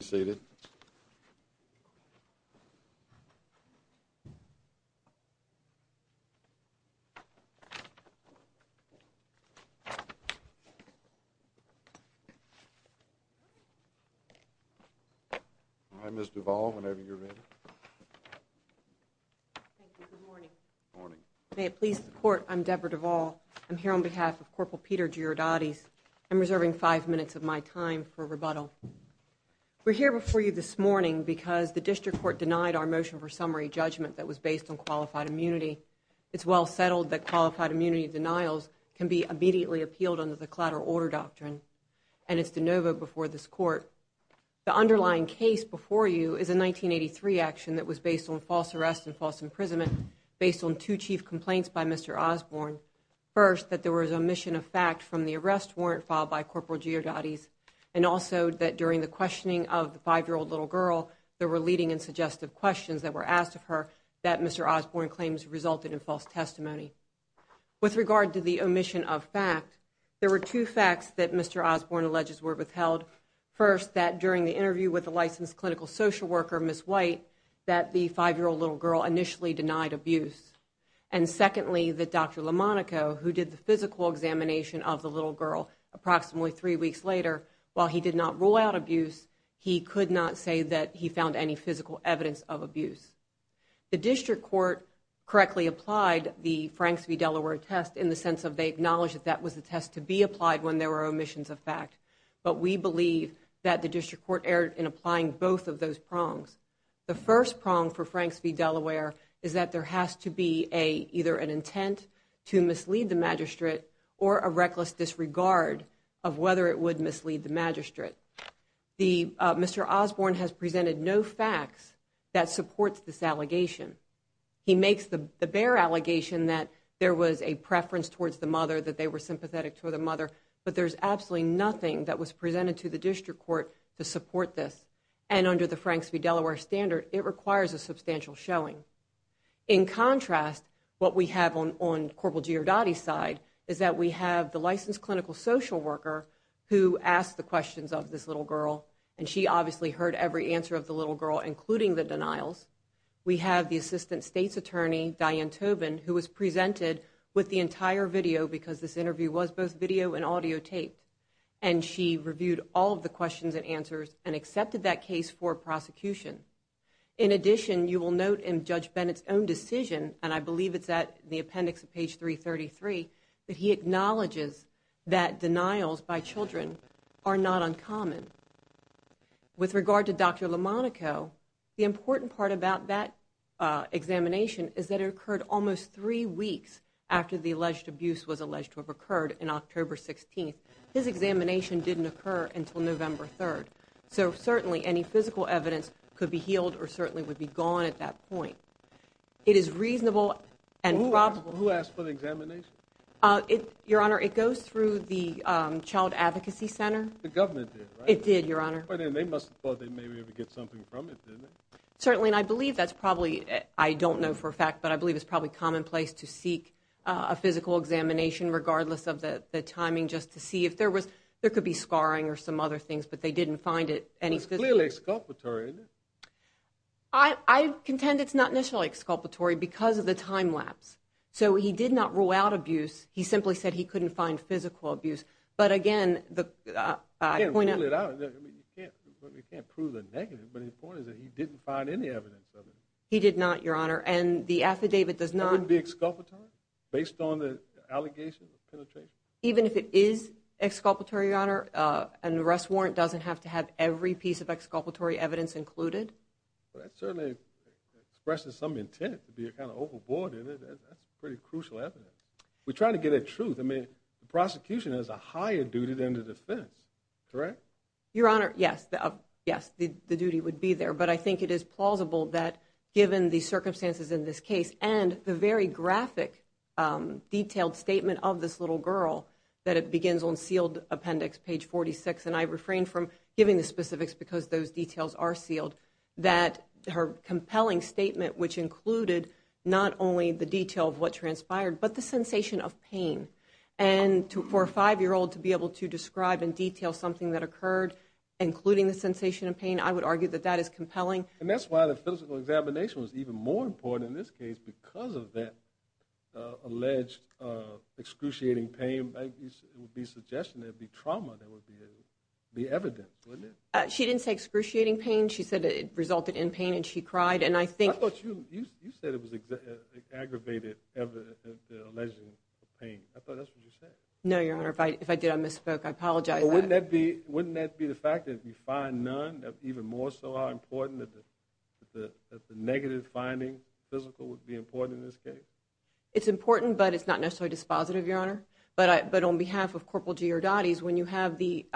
Please be seated. All right, Ms. Duvall, whenever you're ready. Thank you. Good morning. Good morning. May it please the Court, I'm Deborah Duvall. I'm here on behalf of Corporal Peter Georgiades. I'm reserving five minutes of my time for rebuttal. We're here before you this morning because the District Court denied our motion for summary judgment that was based on qualified immunity. It's well settled that qualified immunity denials can be immediately appealed under the Clatter Order Doctrine, and it's de novo before this Court. The underlying case before you is a 1983 action that was based on false arrest and false imprisonment based on two chief complaints by Mr. Osborne. First, that there was omission of fact from the arrest warrant filed by Corporal Georgiades, and also that during the questioning of the 5-year-old little girl, there were leading and suggestive questions that were asked of her that Mr. Osborne claims resulted in false testimony. With regard to the omission of fact, there were two facts that Mr. Osborne alleges were withheld. First, that during the interview with the licensed clinical social worker, Ms. White, that the 5-year-old little girl initially denied abuse. And secondly, that Dr. Lamonaco, who did the physical examination of the little girl approximately three weeks later, while he did not rule out abuse, he could not say that he found any physical evidence of abuse. The District Court correctly applied the Franks v. Delaware test in the sense that they acknowledged that that was the test to be applied when there were omissions of fact. But we believe that the District Court erred in applying both of those prongs. The first prong for Franks v. Delaware is that there has to be either an intent to mislead the magistrate or a reckless disregard of whether it would mislead the magistrate. Mr. Osborne has presented no facts that supports this allegation. He makes the bare allegation that there was a preference towards the mother, that they were sympathetic toward the mother, but there's absolutely nothing that was presented to the District Court to support this. And under the Franks v. Delaware standard, it requires a substantial showing. In contrast, what we have on Corporal Giordatti's side is that we have the licensed clinical social worker who asked the questions of this little girl, and she obviously heard every answer of the little girl, including the denials. We have the Assistant State's Attorney, Diane Tobin, who was presented with the entire video because this interview was both video and audio taped. And she reviewed all of the questions and answers and accepted that case for prosecution. In addition, you will note in Judge Bennett's own decision, and I believe it's at the appendix of page 333, that he acknowledges that denials by children are not uncommon. With regard to Dr. Lamonaco, the important part about that examination is that it occurred almost three weeks after the alleged abuse was alleged to have occurred in October 16th. His examination didn't occur until November 3rd. So certainly any physical evidence could be healed or certainly would be gone at that point. It is reasonable and probable. Who asked for the examination? Your Honor, it goes through the Child Advocacy Center. The government did, right? It did, Your Honor. But then they must have thought they maybe would get something from it, didn't they? Certainly, and I believe that's probably, I don't know for a fact, but I believe it's probably commonplace to seek a physical examination, regardless of the timing, just to see if there could be scarring or some other things, but they didn't find any physical. It's clearly exculpatory, isn't it? I contend it's not necessarily exculpatory because of the time lapse. So he did not rule out abuse. He simply said he couldn't find physical abuse. But again, the point is that he didn't find any evidence of it. He did not, Your Honor, and the affidavit does not. Would it be exculpatory based on the allegation of penetration? Even if it is exculpatory, Your Honor, an arrest warrant doesn't have to have every piece of exculpatory evidence included. Well, that certainly expresses some intent to be kind of overboard in it. That's pretty crucial evidence. We're trying to get at truth. I mean, the prosecution has a higher duty than the defense, correct? Your Honor, yes, the duty would be there, but I think it is plausible that given the circumstances in this case and the very graphic detailed statement of this little girl, that it begins on sealed appendix, page 46, and I refrain from giving the specifics because those details are sealed, that her compelling statement, which included not only the detail of what transpired, but the sensation of pain, and for a 5-year-old to be able to describe in detail something that occurred, including the sensation of pain, I would argue that that is compelling. And that's why the physical examination was even more important in this case because of that alleged excruciating pain. It would be a suggestion that it would be trauma that would be evident, wouldn't it? She didn't say excruciating pain. She said it resulted in pain, and she cried. I thought you said it was aggravated alleging pain. I thought that's what you said. No, Your Honor, if I did, I misspoke. I apologize. Wouldn't that be the fact that if you find none, even more so how important that the negative finding, physical, would be important in this case? It's important, but it's not necessarily dispositive, Your Honor. But on behalf of Corporal Giordatti's, when you have the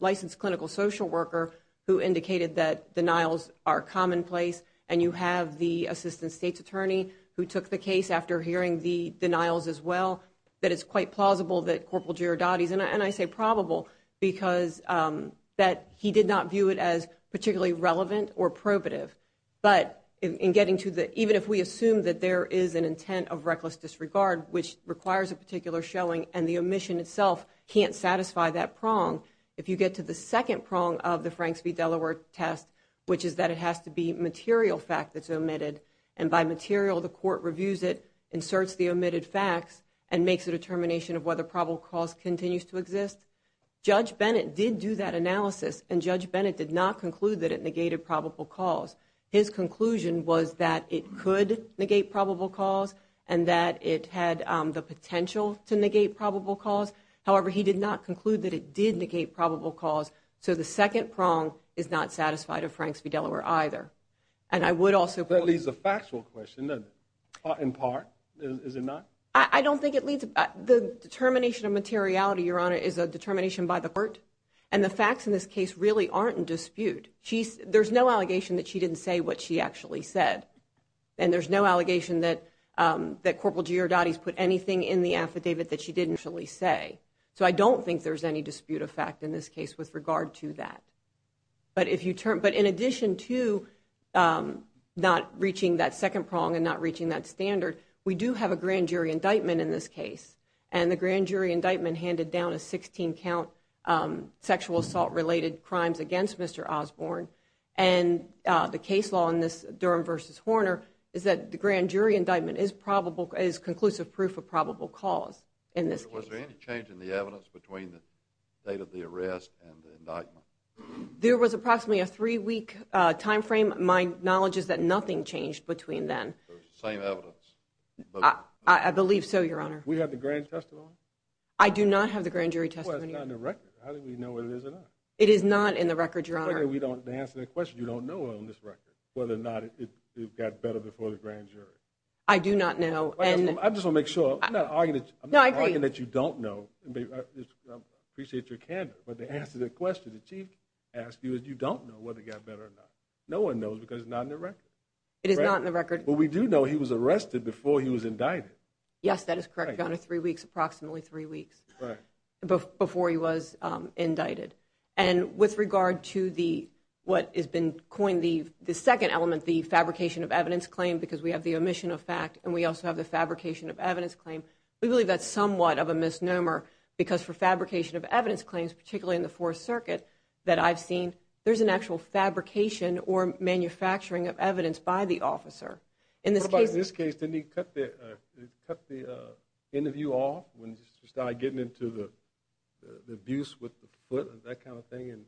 licensed clinical social worker who indicated that denials are commonplace, and you have the assistant state's attorney who took the case after hearing the denials as well, that it's quite plausible that Corporal Giordatti's, and I say probable, because that he did not view it as particularly relevant or probative. But in getting to the, even if we assume that there is an intent of reckless disregard, which requires a particular showing and the omission itself can't satisfy that prong, if you get to the second prong of the Franks v. Delaware test, which is that it has to be material fact that's omitted, and by material, the court reviews it, inserts the omitted facts, and makes a determination of whether probable cause continues to exist, Judge Bennett did do that analysis, and Judge Bennett did not conclude that it negated probable cause. His conclusion was that it could negate probable cause and that it had the potential to negate probable cause. However, he did not conclude that it did negate probable cause, so the second prong is not satisfied of Franks v. Delaware either. And I would also point out... The determination of materiality, Your Honor, is a determination by the court, and the facts in this case really aren't in dispute. There's no allegation that she didn't say what she actually said, and there's no allegation that Corporal Giordatti's put anything in the affidavit that she didn't actually say. So I don't think there's any dispute of fact in this case with regard to that. But in addition to not reaching that second prong and not reaching that standard, we do have a grand jury indictment in this case, and the grand jury indictment handed down a 16-count sexual assault-related crimes against Mr. Osborne, and the case law in this Durham v. Horner is that the grand jury indictment is conclusive proof of probable cause in this case. Was there any change in the evidence between the date of the arrest and the indictment? There was approximately a three-week time frame. My knowledge is that nothing changed between then. Same evidence? I believe so, Your Honor. We have the grand testimony? I do not have the grand jury testimony. Well, it's not in the record. How do we know whether it is or not? It is not in the record, Your Honor. We don't answer that question. You don't know on this record whether or not it got better before the grand jury. I do not know. I'm just going to make sure. I'm not arguing that you don't know. I appreciate your candor, but to answer the question the Chief asked you is you don't know whether it got better or not. No one knows because it's not in the record. It is not in the record. But we do know he was arrested before he was indicted. Yes, that is correct, Your Honor. Three weeks, approximately three weeks before he was indicted. And with regard to what has been coined the second element, the fabrication of evidence claim, because we have the omission of fact and we also have the fabrication of evidence claim, we believe that's somewhat of a misnomer because for fabrication of evidence claims, particularly in the Fourth Circuit that I've seen, there's an actual fabrication or manufacturing of evidence by the officer. What about in this case? Didn't he cut the interview off when he started getting into the abuse with the foot and that kind of thing? And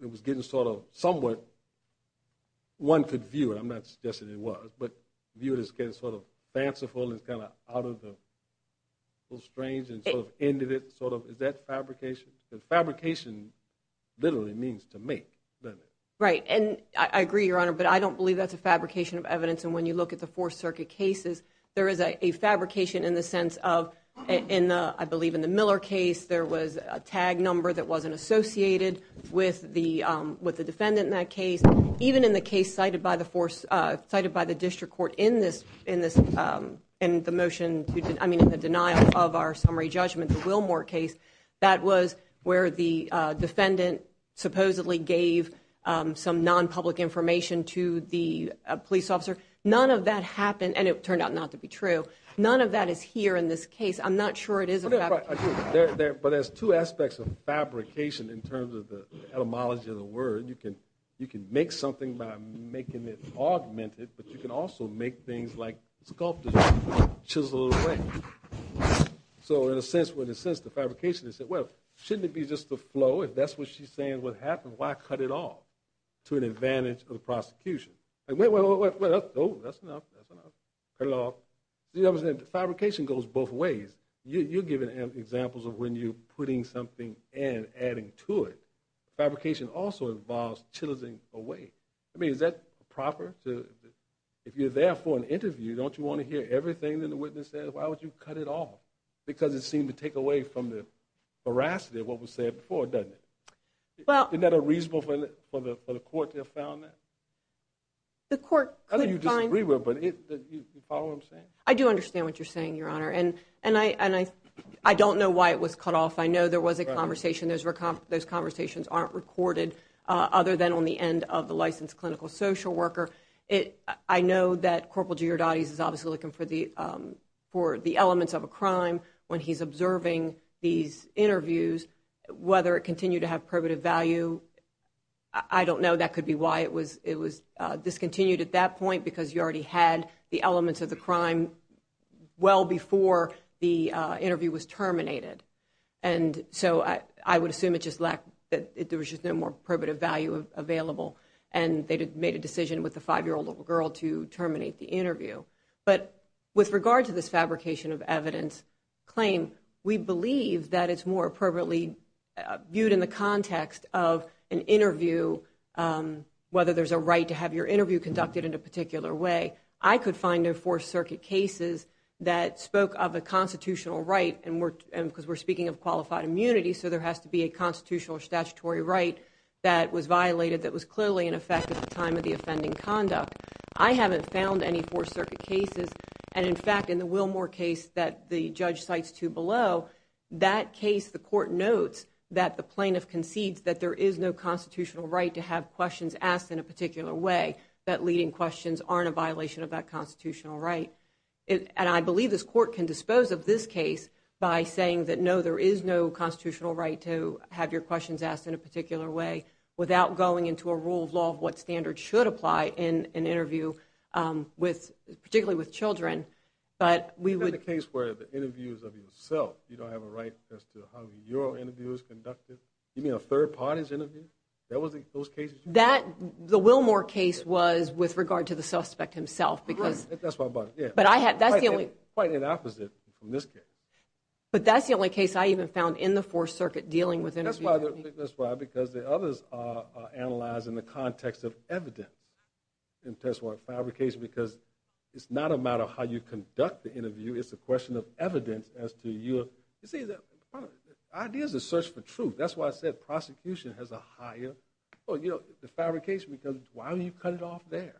it was getting sort of somewhat one could view it. I'm not suggesting it was. But viewed as getting sort of fanciful and kind of out of the strange and sort of ended it. Is that fabrication? Because fabrication literally means to make, doesn't it? Right, and I agree, Your Honor, but I don't believe that's a fabrication of evidence. And when you look at the Fourth Circuit cases, there is a fabrication in the sense of, I believe in the Miller case, there was a tag number that wasn't associated with the defendant in that case. Even in the case cited by the District Court in the motion, I mean in the denial of our summary judgment, the Wilmore case, that was where the defendant supposedly gave some non-public information to the police officer. None of that happened, and it turned out not to be true. None of that is here in this case. I'm not sure it is a fabrication. But there's two aspects of fabrication in terms of the etymology of the word. You can make something by making it augmented, but you can also make things like sculptures chiseled away. So in a sense, the fabrication is, well, shouldn't it be just a flow? If that's what she's saying is what happened, why cut it off to an advantage of the prosecution? Wait, wait, wait, wait, that's enough, that's enough. Fabrication goes both ways. You're giving examples of when you're putting something and adding to it. Fabrication also involves chiseling away. I mean, is that proper? If you're there for an interview, don't you want to hear everything that the witness says, why would you cut it off? Because it seems to take away from the veracity of what was said before, doesn't it? Isn't that unreasonable for the court to have found that? The court could find it. I don't know if you disagree with it, but do you follow what I'm saying? I do understand what you're saying, Your Honor, and I don't know why it was cut off. I know there was a conversation. Those conversations aren't recorded other than on the end of the licensed clinical social worker. I know that Corporal Giordani is obviously looking for the elements of a crime when he's observing these interviews, whether it continued to have probative value. I don't know. That could be why it was discontinued at that point, because you already had the elements of the crime well before the interview was terminated. And so I would assume there was just no more probative value available, and they made a decision with the 5-year-old little girl to terminate the interview. But with regard to this fabrication of evidence claim, we believe that it's more appropriately viewed in the context of an interview, whether there's a right to have your interview conducted in a particular way. I could find no Fourth Circuit cases that spoke of a constitutional right, because we're speaking of qualified immunity, so there has to be a constitutional or statutory right that was violated that was clearly in effect at the time of the offending conduct. I haven't found any Fourth Circuit cases. And, in fact, in the Wilmore case that the judge cites too below, that case the court notes that the plaintiff concedes that there is no constitutional right to have questions asked in a particular way, that leading questions aren't a violation of that constitutional right. And I believe this court can dispose of this case by saying that, no, there is no constitutional right to have your questions asked in a particular way without going into a rule of law of what standards should apply in an interview, particularly with children. But we would – You've got a case where the interview is of yourself. You don't have a right as to how your interview is conducted. You mean a third party's interview? That was in those cases? The Wilmore case was with regard to the suspect himself, because – That's what I'm talking about. Yeah. But I had – that's the only – But that's the only case I even found in the Fourth Circuit dealing with interviews. That's why, because the others are analyzed in the context of evidence in terms of fabrication, because it's not a matter of how you conduct the interview. It's a question of evidence as to your – You see, the idea is to search for truth. That's why I said prosecution has a higher – Well, you know, the fabrication, because why don't you cut it off there?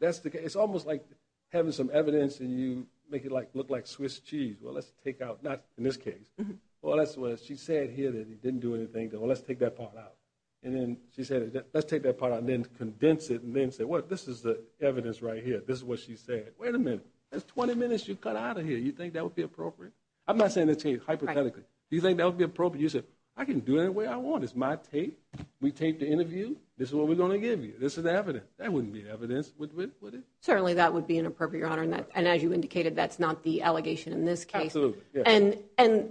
It's almost like having some evidence and you make it look like Swiss cheese. Well, let's take out – not in this case. Well, that's what she said here that he didn't do anything. Well, let's take that part out. And then she said, let's take that part out and then condense it and then say, well, this is the evidence right here. This is what she said. Wait a minute. That's 20 minutes you cut out of here. You think that would be appropriate? I'm not saying to change hypothetically. Do you think that would be appropriate? You said, I can do it any way I want. It's my tape. We taped the interview. This is what we're going to give you. This is evidence. That wouldn't be evidence, would it? Certainly that would be inappropriate, Your Honor, and as you indicated, that's not the allegation in this case. Absolutely, yeah. And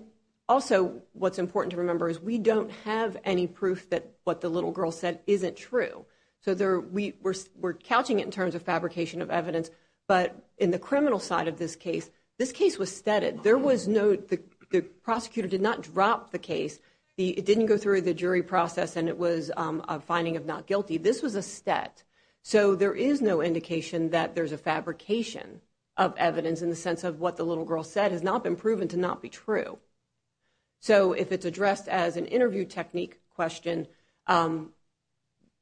also, what's important to remember is we don't have any proof that what the little girl said isn't true. So we're couching it in terms of fabrication of evidence, but in the criminal side of this case, this case was steaded. There was no – the prosecutor did not drop the case. It didn't go through the jury process, and it was a finding of not guilty. This was a stead. has not been proven to not be true. So if it's addressed as an interview technique question,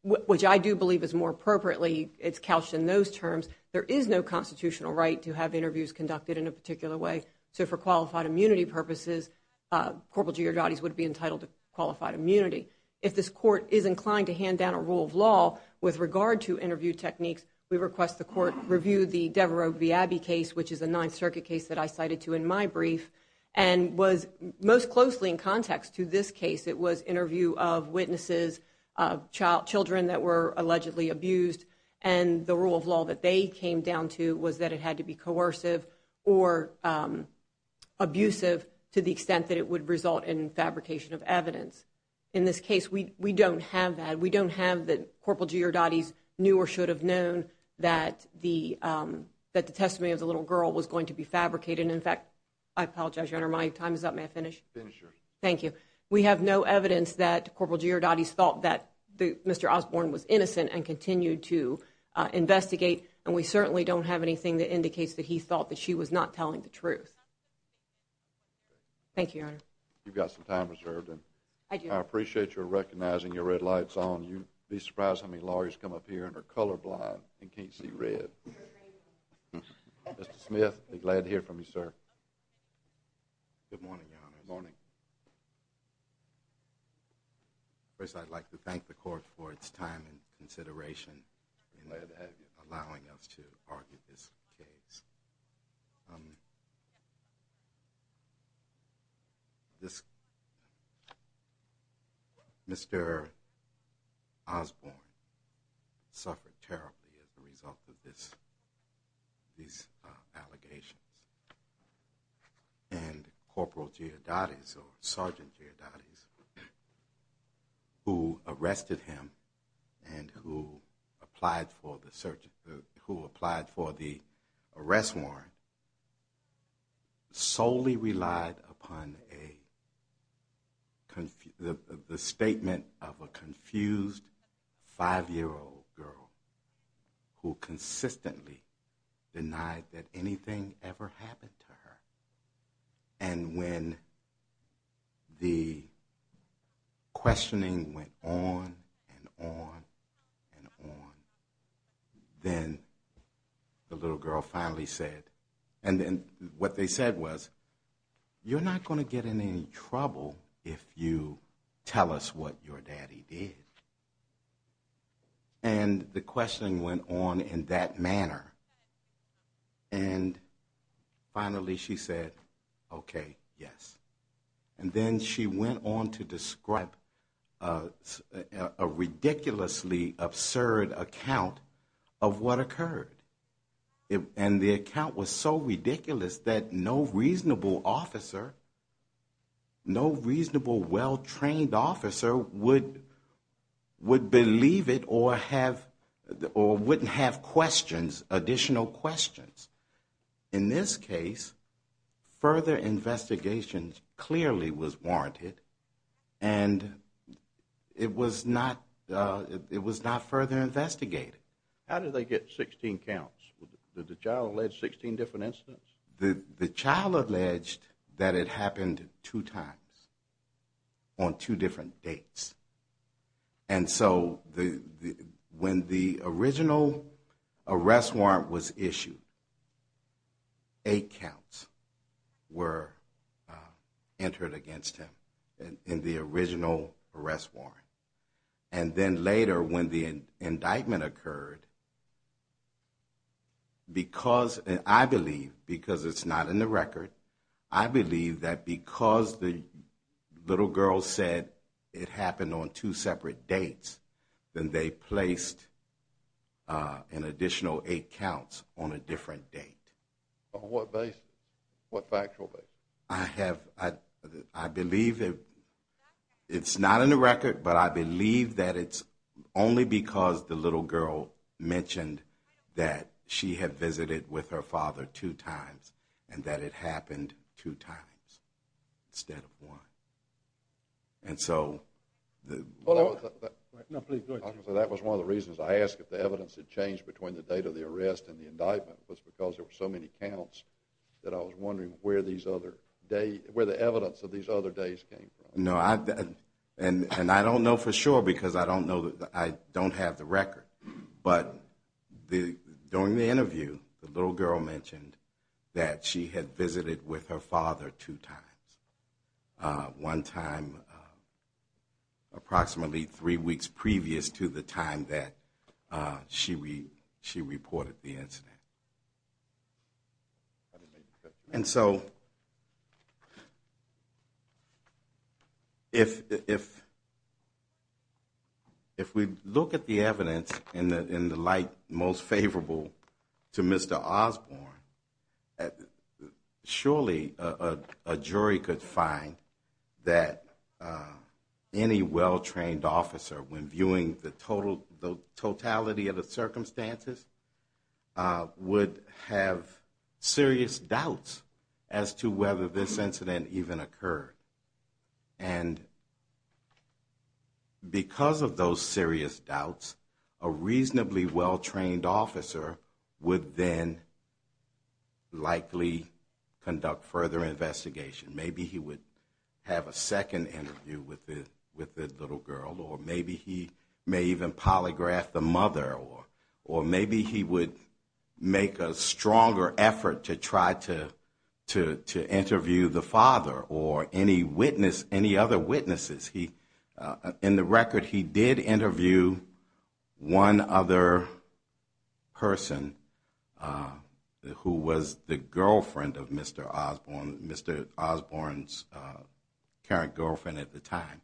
which I do believe is more appropriately, it's couched in those terms, there is no constitutional right to have interviews conducted in a particular way. So for qualified immunity purposes, Corporal Giordotti would be entitled to qualified immunity. If this court is inclined to hand down a rule of law with regard to interview techniques, we request the court review the Devereaux v. Abbey case, which is a Ninth Circuit case that I cited to in my brief, and was most closely in context to this case. It was interview of witnesses, children that were allegedly abused, and the rule of law that they came down to was that it had to be coercive or abusive to the extent that it would result in fabrication of evidence. In this case, we don't have that. We don't have that Corporal Giordotti's knew or should have known that the girl was going to be fabricated. In fact, I apologize, Your Honor, my time is up. May I finish? Finish, Your Honor. Thank you. We have no evidence that Corporal Giordotti's thought that Mr. Osborne was innocent and continued to investigate, and we certainly don't have anything that indicates that he thought that she was not telling the truth. Thank you, Your Honor. You've got some time reserved. I do. I appreciate your recognizing your red lights on. You'd be surprised how many lawyers come up here and are colorblind and can't see red. Mr. Smith, be glad to hear from you, sir. Good morning, Your Honor. Good morning. First, I'd like to thank the Court for its time and consideration in allowing us to argue this case. Mr. Osborne suffered terribly as a result of these allegations, and Corporal Giordotti's, or Sergeant Giordotti's, who arrested him and who applied for the search, solely relied upon the statement of a confused five-year-old girl who consistently denied that anything ever happened to her. And when the questioning went on and on and on, then the little girl finally said, and then what they said was, you're not going to get in any trouble if you tell us what your daddy did. And the questioning went on in that manner, and finally she said, okay, yes. And then she went on to describe a ridiculously absurd account of her what occurred. And the account was so ridiculous that no reasonable officer, no reasonable well-trained officer would believe it or have, or wouldn't have questions, additional questions. In this case, further investigation clearly was warranted, and it was not further investigated. How did they get 16 counts? Did the child allege 16 different incidents? The child alleged that it happened two times on two different dates. And so when the original arrest warrant was issued, eight counts were entered against him in the initial hearing. And then later when the indictment occurred, because I believe, because it's not in the record, I believe that because the little girl said it happened on two separate dates, then they placed an additional eight counts on a different date. On what basis? What factual basis? I have, I believe, it's not in the record, but I believe that it's only because the little girl mentioned that she had visited with her father two times and that it happened two times instead of one. That was one of the reasons I asked if the evidence had changed between the date of the arrest and the indictment was because there were so many counts that I was wondering where the evidence of these other days came from. No, and I don't know for sure because I don't have the record, but during the interview the little girl mentioned that she had visited with her father two times, one time approximately three weeks and so if we look at the evidence in the light most favorable to Mr. Osborne, surely a jury could find that any well-trained officer when viewing the totality of the circumstances would have serious doubts as to whether this incident even occurred. And because of those serious doubts, a reasonably well-trained officer would then likely conduct further investigation. Maybe he would have a second interview with the little girl or maybe he may even polygraph the mother or maybe he would make a stronger effort to try to interview the father or any other witnesses. In the record he did interview one other person who was the girlfriend of Mr. Osborne, Mr. Osborne's current girlfriend at the time.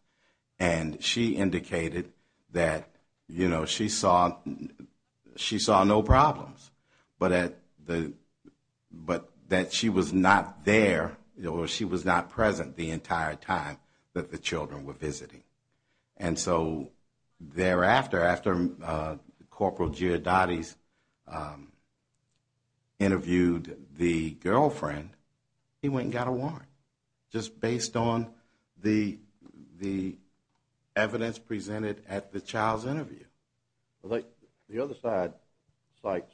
And she indicated that she saw no problems, but that she was not there or she was not present the entire time that the children were visiting. And so thereafter, after Corporal Giardotti interviewed the girlfriend, he went and got a warrant just based on the evidence presented at the child's interview. The other side cites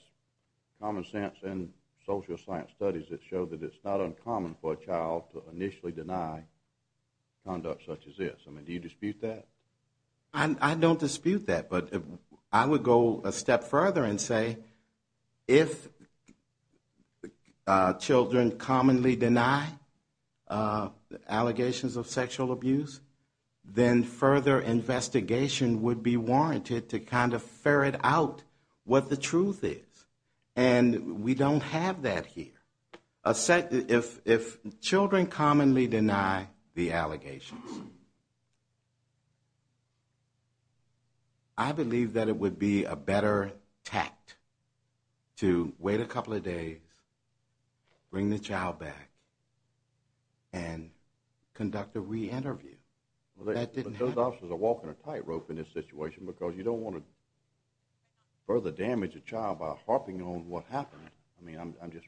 common sense and social science studies that show that it's not uncommon for a child to initially deny conduct such as this. I mean, do you dispute that? I don't dispute that, but I would go a step further and say if children commonly deny allegations of child abuse, I believe that it would be a better tact to wait a couple of days, bring the child back and conduct a re-interview. Those officers are walking a tightrope in this situation because you don't want to further damage a child by harping on what happened. I mean, I'm just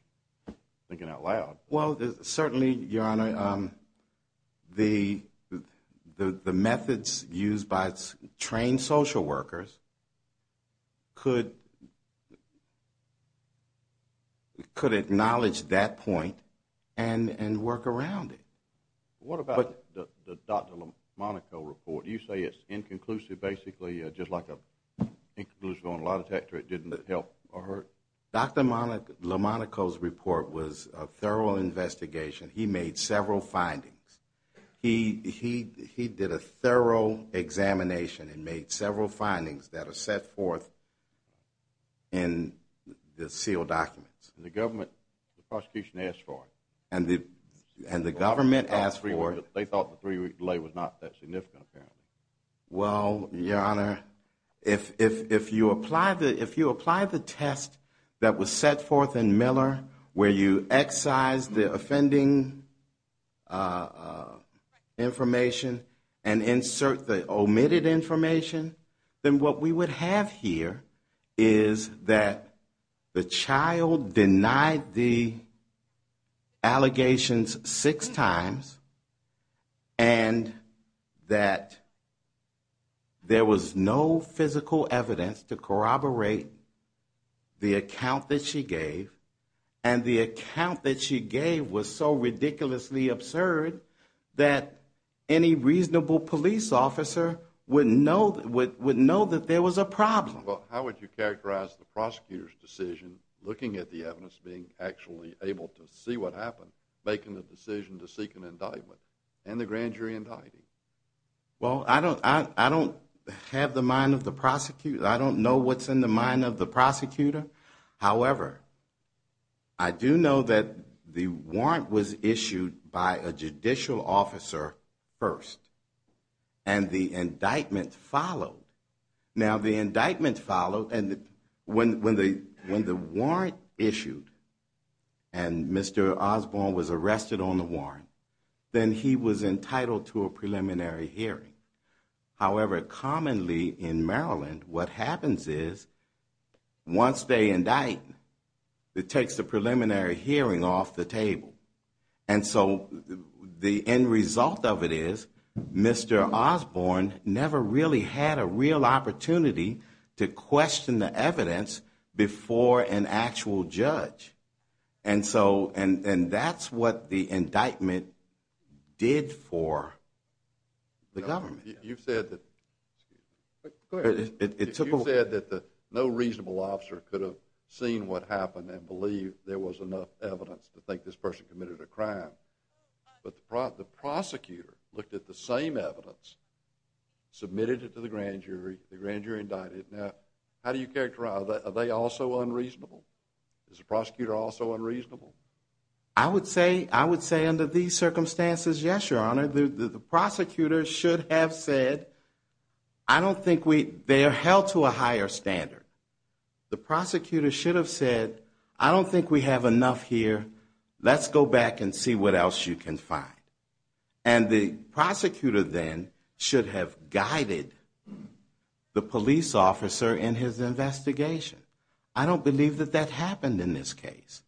thinking out loud. Well, there's certainly, Your Honor, the, the methods used by trained social workers could, could acknowledge that point and work around it. What about the Dr. LaMonaco report? Do you say it's inconclusive basically, just like an inconclusive on a lie detector that didn't help or hurt? Dr. LaMonaco's report was a thorough investigation. He made several findings. He did a thorough examination and made several findings that are set forth in the sealed documents. And the government, the prosecution asked for it. And the government asked for it. They thought the three week delay was not that significant apparently. Well, Your Honor, if, if, if you apply the, if you apply the test that was set forth in Miller, where you excise the offending information and insert the omitted information, then what we would have here is that the child denied the allegations of allegations six times and that there was no physical evidence to corroborate the account that she gave. And the account that she gave was so ridiculously absurd that any reasonable police officer would know, would know that there was a problem. How would you characterize the prosecutor's decision looking at the evidence being actually able to see what happened, making the decision to seek an indictment and the grand jury indicting? Well, I don't, I don't have the mind of the prosecutor. I don't know what's in the mind of the prosecutor. However, I do know that the warrant was issued by a judicial officer first and the indictment followed. Now the indictment followed and when, when the, when the warrant issued and Mr. Osborne was arrested on the warrant, then he was entitled to a preliminary hearing. However, commonly in Maryland what happens is once they indict, it takes the preliminary hearing off the table. And so the end result of it is Mr. Osborne never really had a real opportunity to question the evidence before an actual judge. And so, and that's what the indictment did for the government. You've said that no reasonable officer could have seen what happened and believed there was enough evidence to think this person committed a crime. But the prosecutor looked at the same evidence, submitted it to the grand jury, the grand jury indicted. Now how do you characterize that? Are they also unreasonable? Is the prosecutor also unreasonable? I would say, I would say under these circumstances, yes, your honor, the prosecutor should have said, I don't think we, they are held to a higher standard. The prosecutor should have said, I don't think we have enough here. Let's go back and see what else you can find. And the prosecutor then should have guided the police officer in his investigation. I don't believe that that happened in this case.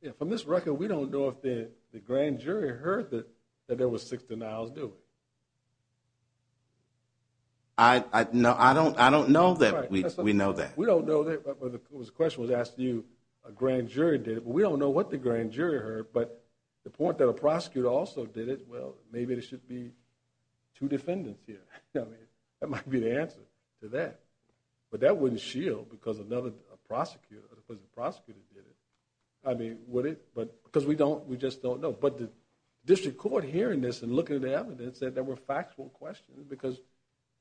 Yeah. From this record, we don't know if the grand jury heard that, that there was six denials. Do it. I know. I don't, I don't know that we know that we don't know that it was a question was asked to you. A grand jury did it, but we don't know what the grand jury heard. But the point that a prosecutor also did it, well, maybe there should be two defendants here. I mean, that might be the answer to that, but that wouldn't shield because another prosecutor, because the prosecutor did it. I mean, would it, but because we don't, we just don't know. But the district court hearing this and looking at the evidence that there were factual questions because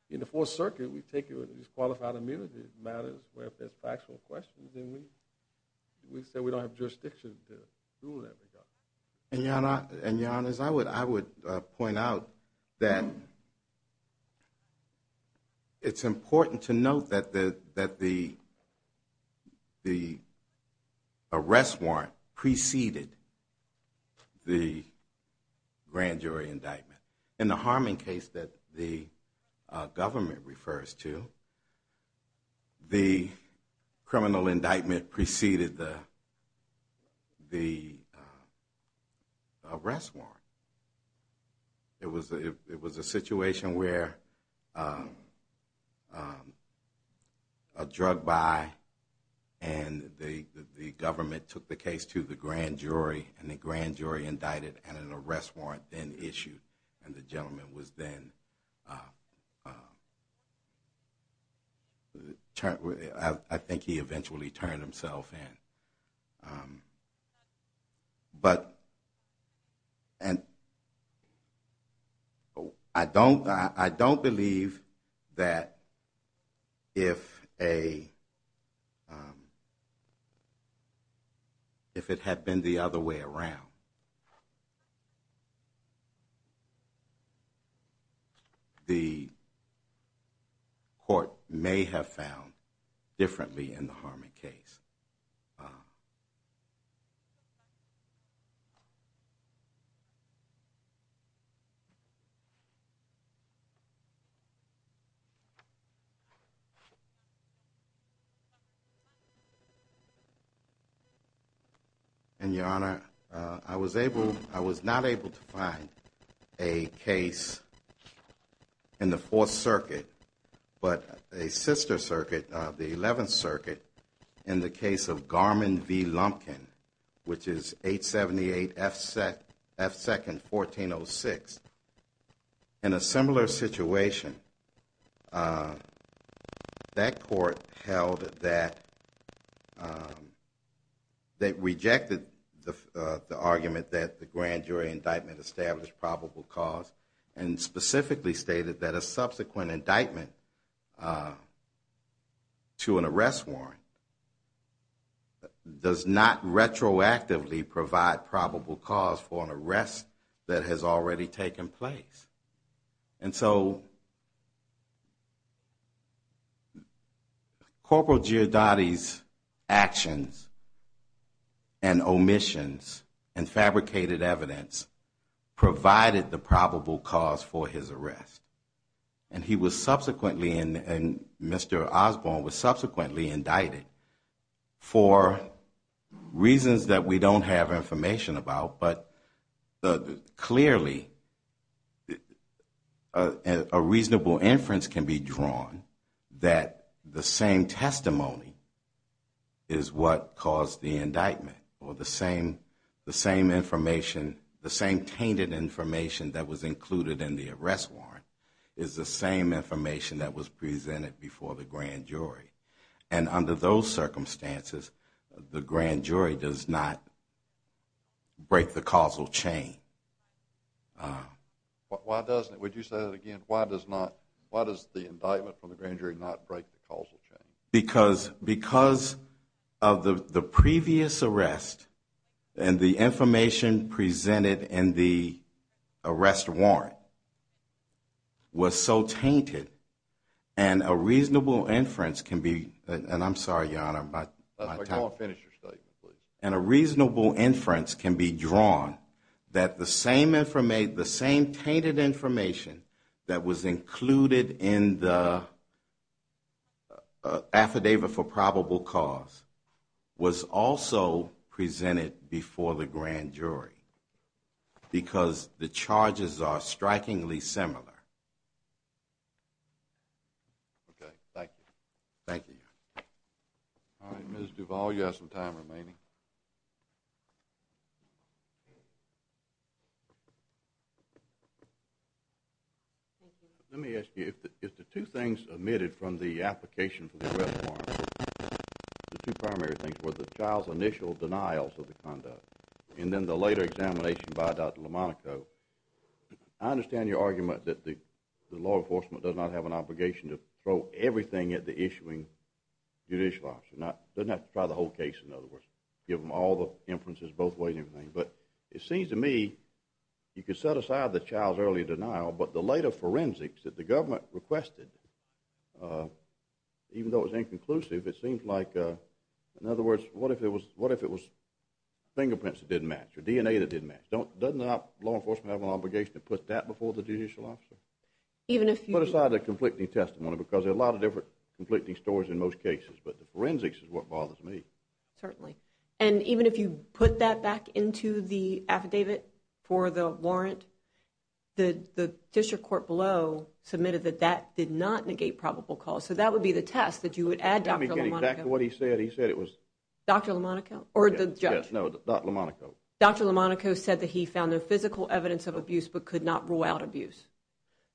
in the fourth circuit, we take you into these qualified immunity matters where if there's factual questions and we, we say we don't have jurisdiction to do that. And you're not, and you're honest. I would, I would point out that it's important to note that the, that the, the arrest warrant preceded the grand jury indictment in the harming case that the government refers to the criminal indictment preceded the grand jury, the arrest warrant. It was a, it was a situation where a drug buy and the, the government took the case to the grand jury and the grand jury indicted and an arrest warrant then issued. And the gentleman was then I think he eventually turned himself in. Um, but, and I don't, I don't believe that if a, um, if it had been the other way around, the court may have found differently in the Harmon case. Uh, and your honor, uh, I was able, I was not able to find a case in the fourth circuit, but a sister circuit, uh, the 11th circuit in the case of Garmin V Lumpkin, which is eight 78 F set F second 14 Oh six in a similar situation. Uh, that court held that, um, that rejected the, uh, the argument that the grand jury indictment established probable cause and specifically stated that a subsequent indictment, uh, to an arrest warrant does not retroactively provide probable cause for an arrest that has already taken place. And so corporal G. Adati's actions and omissions and fabricated evidence provided the probable cause for his arrest. And he was subsequently in and Mr. Osborne was subsequently indicted for reasons that we don't have information about. But the clearly, uh, a reasonable inference can be drawn that the same testimony is what caused the indictment or the same, the same information, and the same tainted information that was included in the arrest warrant is the same information that was presented before the grand jury. And under those circumstances, the grand jury does not break the causal chain. Uh, why doesn't it, would you say that again? Why does not, why does the indictment from the grand jury not break the causal chain? Because, because of the previous arrest and the information presented in the arrest warrant was so tainted and a reasonable inference can be, and I'm sorry, your honor, but I can't finish your statement please. And a reasonable inference can be drawn that the same information, the same tainted information that was included in the, uh, affidavit for probable cause was also presented before the grand jury because the charges are strikingly similar. Okay. Thank you. Thank you. All right. Ms. Duvall, you have some time remaining. Let me ask you, if the, if the two things omitted from the application for the arrest warrant, the two primary things were the child's initial denials of the conduct and then the later examination by Dr. Lamonaco, I understand your argument that the law enforcement does not have an obligation to throw everything at the issuing judicial officer. Not, doesn't have to try the whole case in other words, give them all the inferences both ways and everything. But it seems to me you could set aside the child's early denial, but the later forensics that the government requested, uh, even though it was inconclusive, it seems like, uh, in other words, what if it was, what if it was fingerprints that didn't match or DNA that didn't match? Don't, doesn't law enforcement have an obligation to put that before the judicial officer? Even if you put aside the conflicting testimony, because there are a lot of different conflicting stories in most cases, but the forensics is what bothers me. Certainly. And even if you put that back into the affidavit for the warrant, the, the district court below submitted that that did not negate probable cause. So that would be the test that you would add Dr. Lamonaco. Let me get back to what he said. He said it was. Dr. Lamonaco or the judge. No, Dr. Lamonaco. Dr. Lamonaco said that he found no physical evidence of abuse, but could not rule out abuse.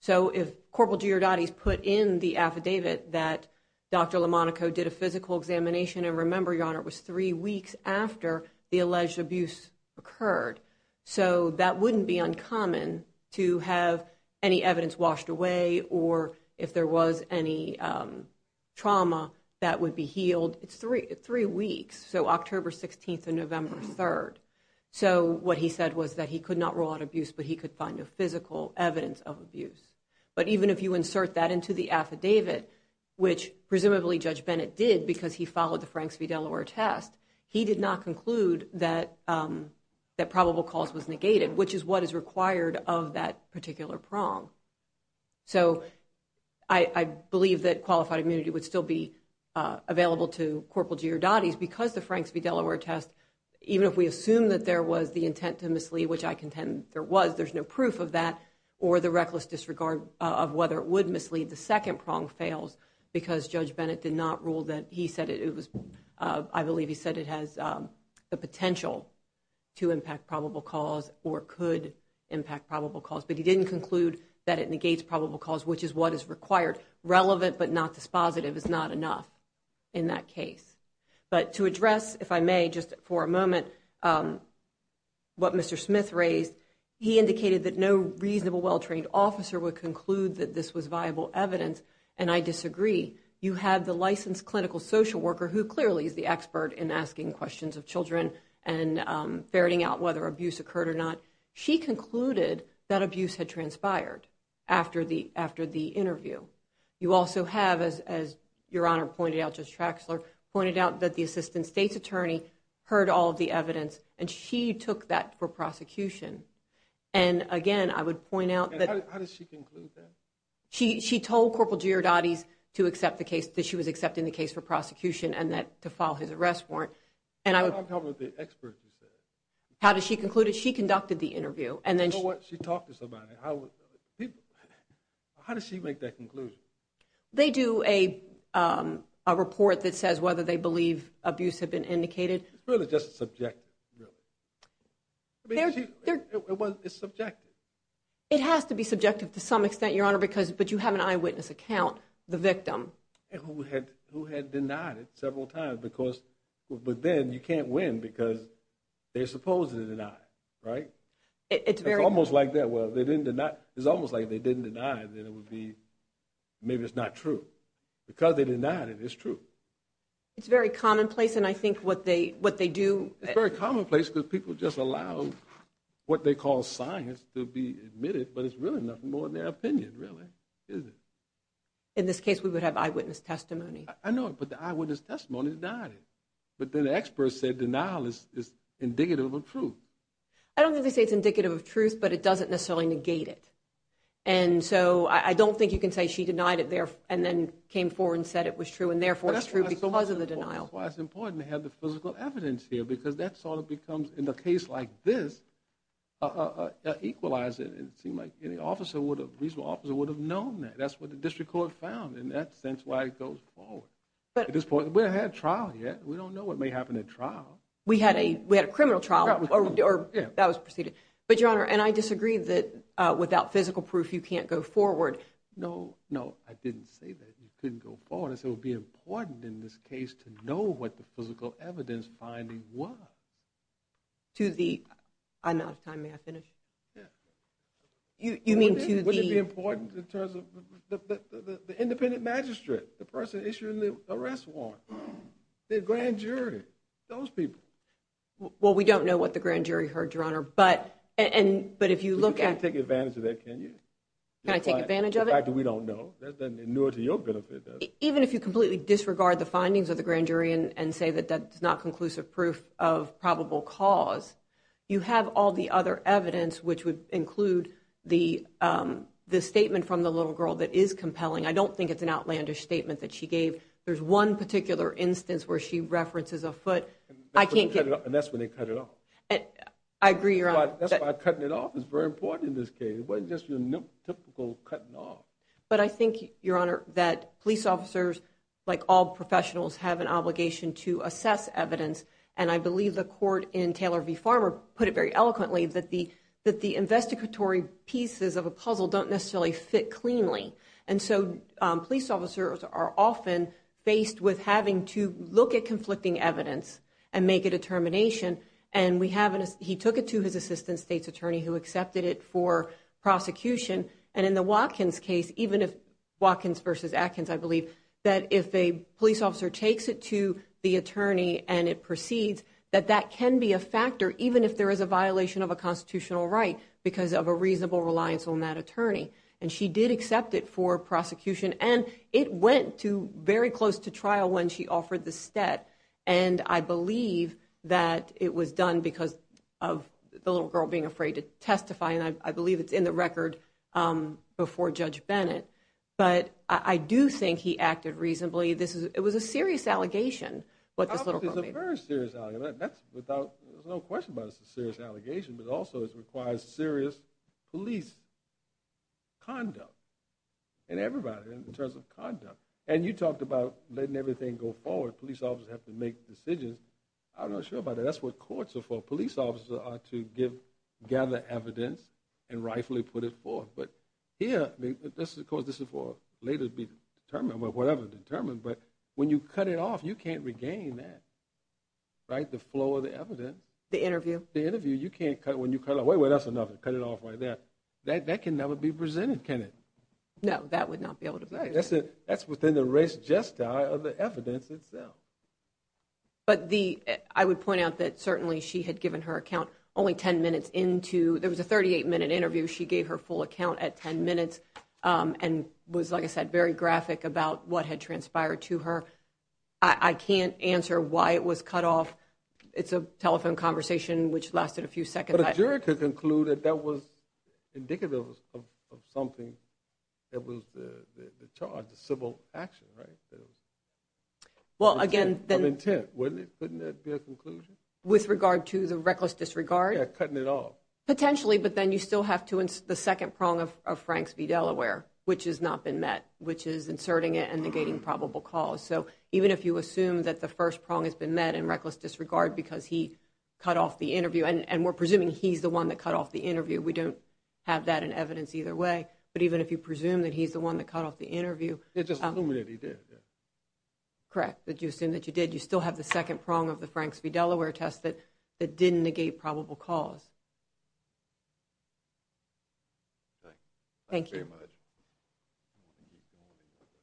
So if corporal Giordani's put in the affidavit that Dr. Lamonaco did a physical examination and remember your honor, it was three weeks after the alleged abuse occurred. So that wouldn't be uncommon to have any evidence washed away. Or if there was any trauma that would be healed, it's three, three weeks. So October 16th and November 3rd. So what he said was that he could not rule out abuse, but he could find a physical evidence of abuse. But even if you insert that into the affidavit, which presumably judge Bennett did because he followed the Franks v. Delaware test, He did not conclude that that probable cause was negated, which is what is required of that particular prong. So. I believe that qualified immunity would still be available to corporal Giordani's because the Franks v. Delaware test, even if we assume that there was the intent to mislead, which I contend there was, there's no proof of that or the reckless disregard of whether it would mislead. The second prong fails because judge Bennett did not rule that he said it. I believe he said it has the potential to impact probable cause or could impact probable cause, but he didn't conclude that it negates probable cause, which is what is required relevant, but not dispositive is not enough in that case. But to address, if I may just for a moment, what Mr. Smith raised, he indicated that no reasonable well-trained officer would conclude that this was viable evidence. And I disagree. You have the licensed clinical social worker who clearly is the expert in asking questions of children and ferreting out whether abuse occurred or not. She concluded that abuse had transpired after the, after the interview. You also have, as, as your honor pointed out, just tracks or pointed out that the assistant state's attorney heard all of the evidence. And she took that for prosecution. And again, I would point out that how does she conclude that she, she told corporal to accept the case that she was accepting the case for prosecution and that to file his arrest warrant. And I would talk with the experts. How does she conclude it? She conducted the interview and then she talked to somebody. I would, how does she make that conclusion? They do a, a report that says whether they believe abuse had been indicated. It's really just subjective. It's subjective. It has to be subjective to some extent, your honor, because, but you have an eyewitness account, the victim who had, who had denied it several times because, but then you can't win because they're supposed to deny it, right? It's almost like that. Well, they didn't deny. It's almost like they didn't deny it. Then it would be, maybe it's not true because they did not. And it's true. It's very commonplace. And I think what they, what they do, it's very commonplace because people just allow what they call science to be admitted. But it's really nothing more than their opinion really. Is it? In this case, we would have eyewitness testimony. I know it, but the eyewitness testimony is not, but then the experts said denial is, is indicative of truth. I don't think they say it's indicative of truth, but it doesn't necessarily negate it. And so I don't think you can say she denied it there and then came forward and said it was true. And therefore it's true because of the denial. Why it's important to have the physical evidence here, because that's all it becomes in the case like this, uh, uh, uh, uh. Um, if they equalized it, and it seemed like any officer would have reasonable officer would have known that that's what the district court found in that sense. Why it goes forward. But at this point we don't have a trial yet. We don't know what may happen at trial. We had a, we had a criminal trial or, or that was proceeded, but your honor. And I disagree that, uh, without physical proof, you can't go forward. No, no, I didn't say that. You couldn't go forward and so it would be important in this case to know what the physical evidence finding was. To the, I'm out of time. May I finish? Yeah. You, you mean to be important in terms of the, the, the, the independent magistrate, the person issuing the arrest warrant, the grand jury, those people. Well, we don't know what the grand jury heard your honor. But, and, but if you look at, take advantage of that, can you kind of take advantage of it? We don't know. There's nothing new to your benefit. Even if you completely disregard the findings of the grand jury and, and say that that's not conclusive proof of probable cause, you have all the other evidence, which would include the, um, the statement from the little girl that is compelling. I don't think it's an outlandish statement that she gave. There's one particular instance where she references a foot. I can't get it. And that's when they cut it off. I agree. You're on cutting it off. It's very important in this case. It wasn't just your typical cutting off. But I think your honor that police officers, like all professionals have an obligation to assess evidence. And I believe the court in Taylor v. Farmer put it very eloquently that the, that the investigatory pieces of a puzzle don't necessarily fit cleanly. And so, um, police officers are often faced with having to look at conflicting evidence and make a determination. And we haven't, he took it to his assistant state's attorney who accepted it for prosecution. And in the Watkins case, even if Watkins versus Atkins, I believe that if a police officer takes it to the attorney and it proceeds, that that can be a factor, even if there is a violation of a constitutional right, because of a reasonable reliance on that attorney. And she did accept it for prosecution. And it went to very close to trial when she offered the stat. And I believe that it was done because of the little girl being afraid to testify. And I believe it's in the record, um, before judge Bennett. But I do think he acted reasonably. This is, it was a serious allegation, but there's a very serious argument that's without, there's no question about it. It's a serious allegation, but also it requires serious police conduct and everybody in terms of conduct. And you talked about letting everything go forward. Police officers have to make decisions. I'm not sure about it. That's what courts are for. Police officers are to give gather evidence and rightfully put it for, but yeah, this is of course, this is for later to be determined, but whatever determined, but when you cut it off, you can't regain that, right? The flow of the evidence, the interview, the interview, you can't cut when you cut away with us enough to cut it off right there that that can never be presented. Can it? No, that would not be able to say that's it. That's within the race. Just die of the evidence itself. But the, I would point out that certainly she had given her account only 10 minutes into, there was a 38 minute interview. She gave her full account at 10 minutes. And was, like I said, very graphic about what had transpired to her. I can't answer why it was cut off. It's a telephone conversation, which lasted a few seconds. Juror concluded that was indicative of, of, of something. It was the, the, the charge, the civil action, right? Well, again, then intent, wouldn't it be a conclusion with regard to the reckless disregard, cutting it off potentially, but then you still have to, the second prong of, of Franks v. Delaware, which has not been met, which is inserting it and negating probable cause. So even if you assume that the first prong has been met and reckless disregard, because he cut off the interview and, and we're presuming he's the one that cut off the interview. We don't have that in evidence either way, but even if you presume that he's the one that cut off the interview, Correct. That you assume that you did, you still have the second prong of the Franks v. Delaware test that, that didn't negate probable cause. Thank you. Thank you very much.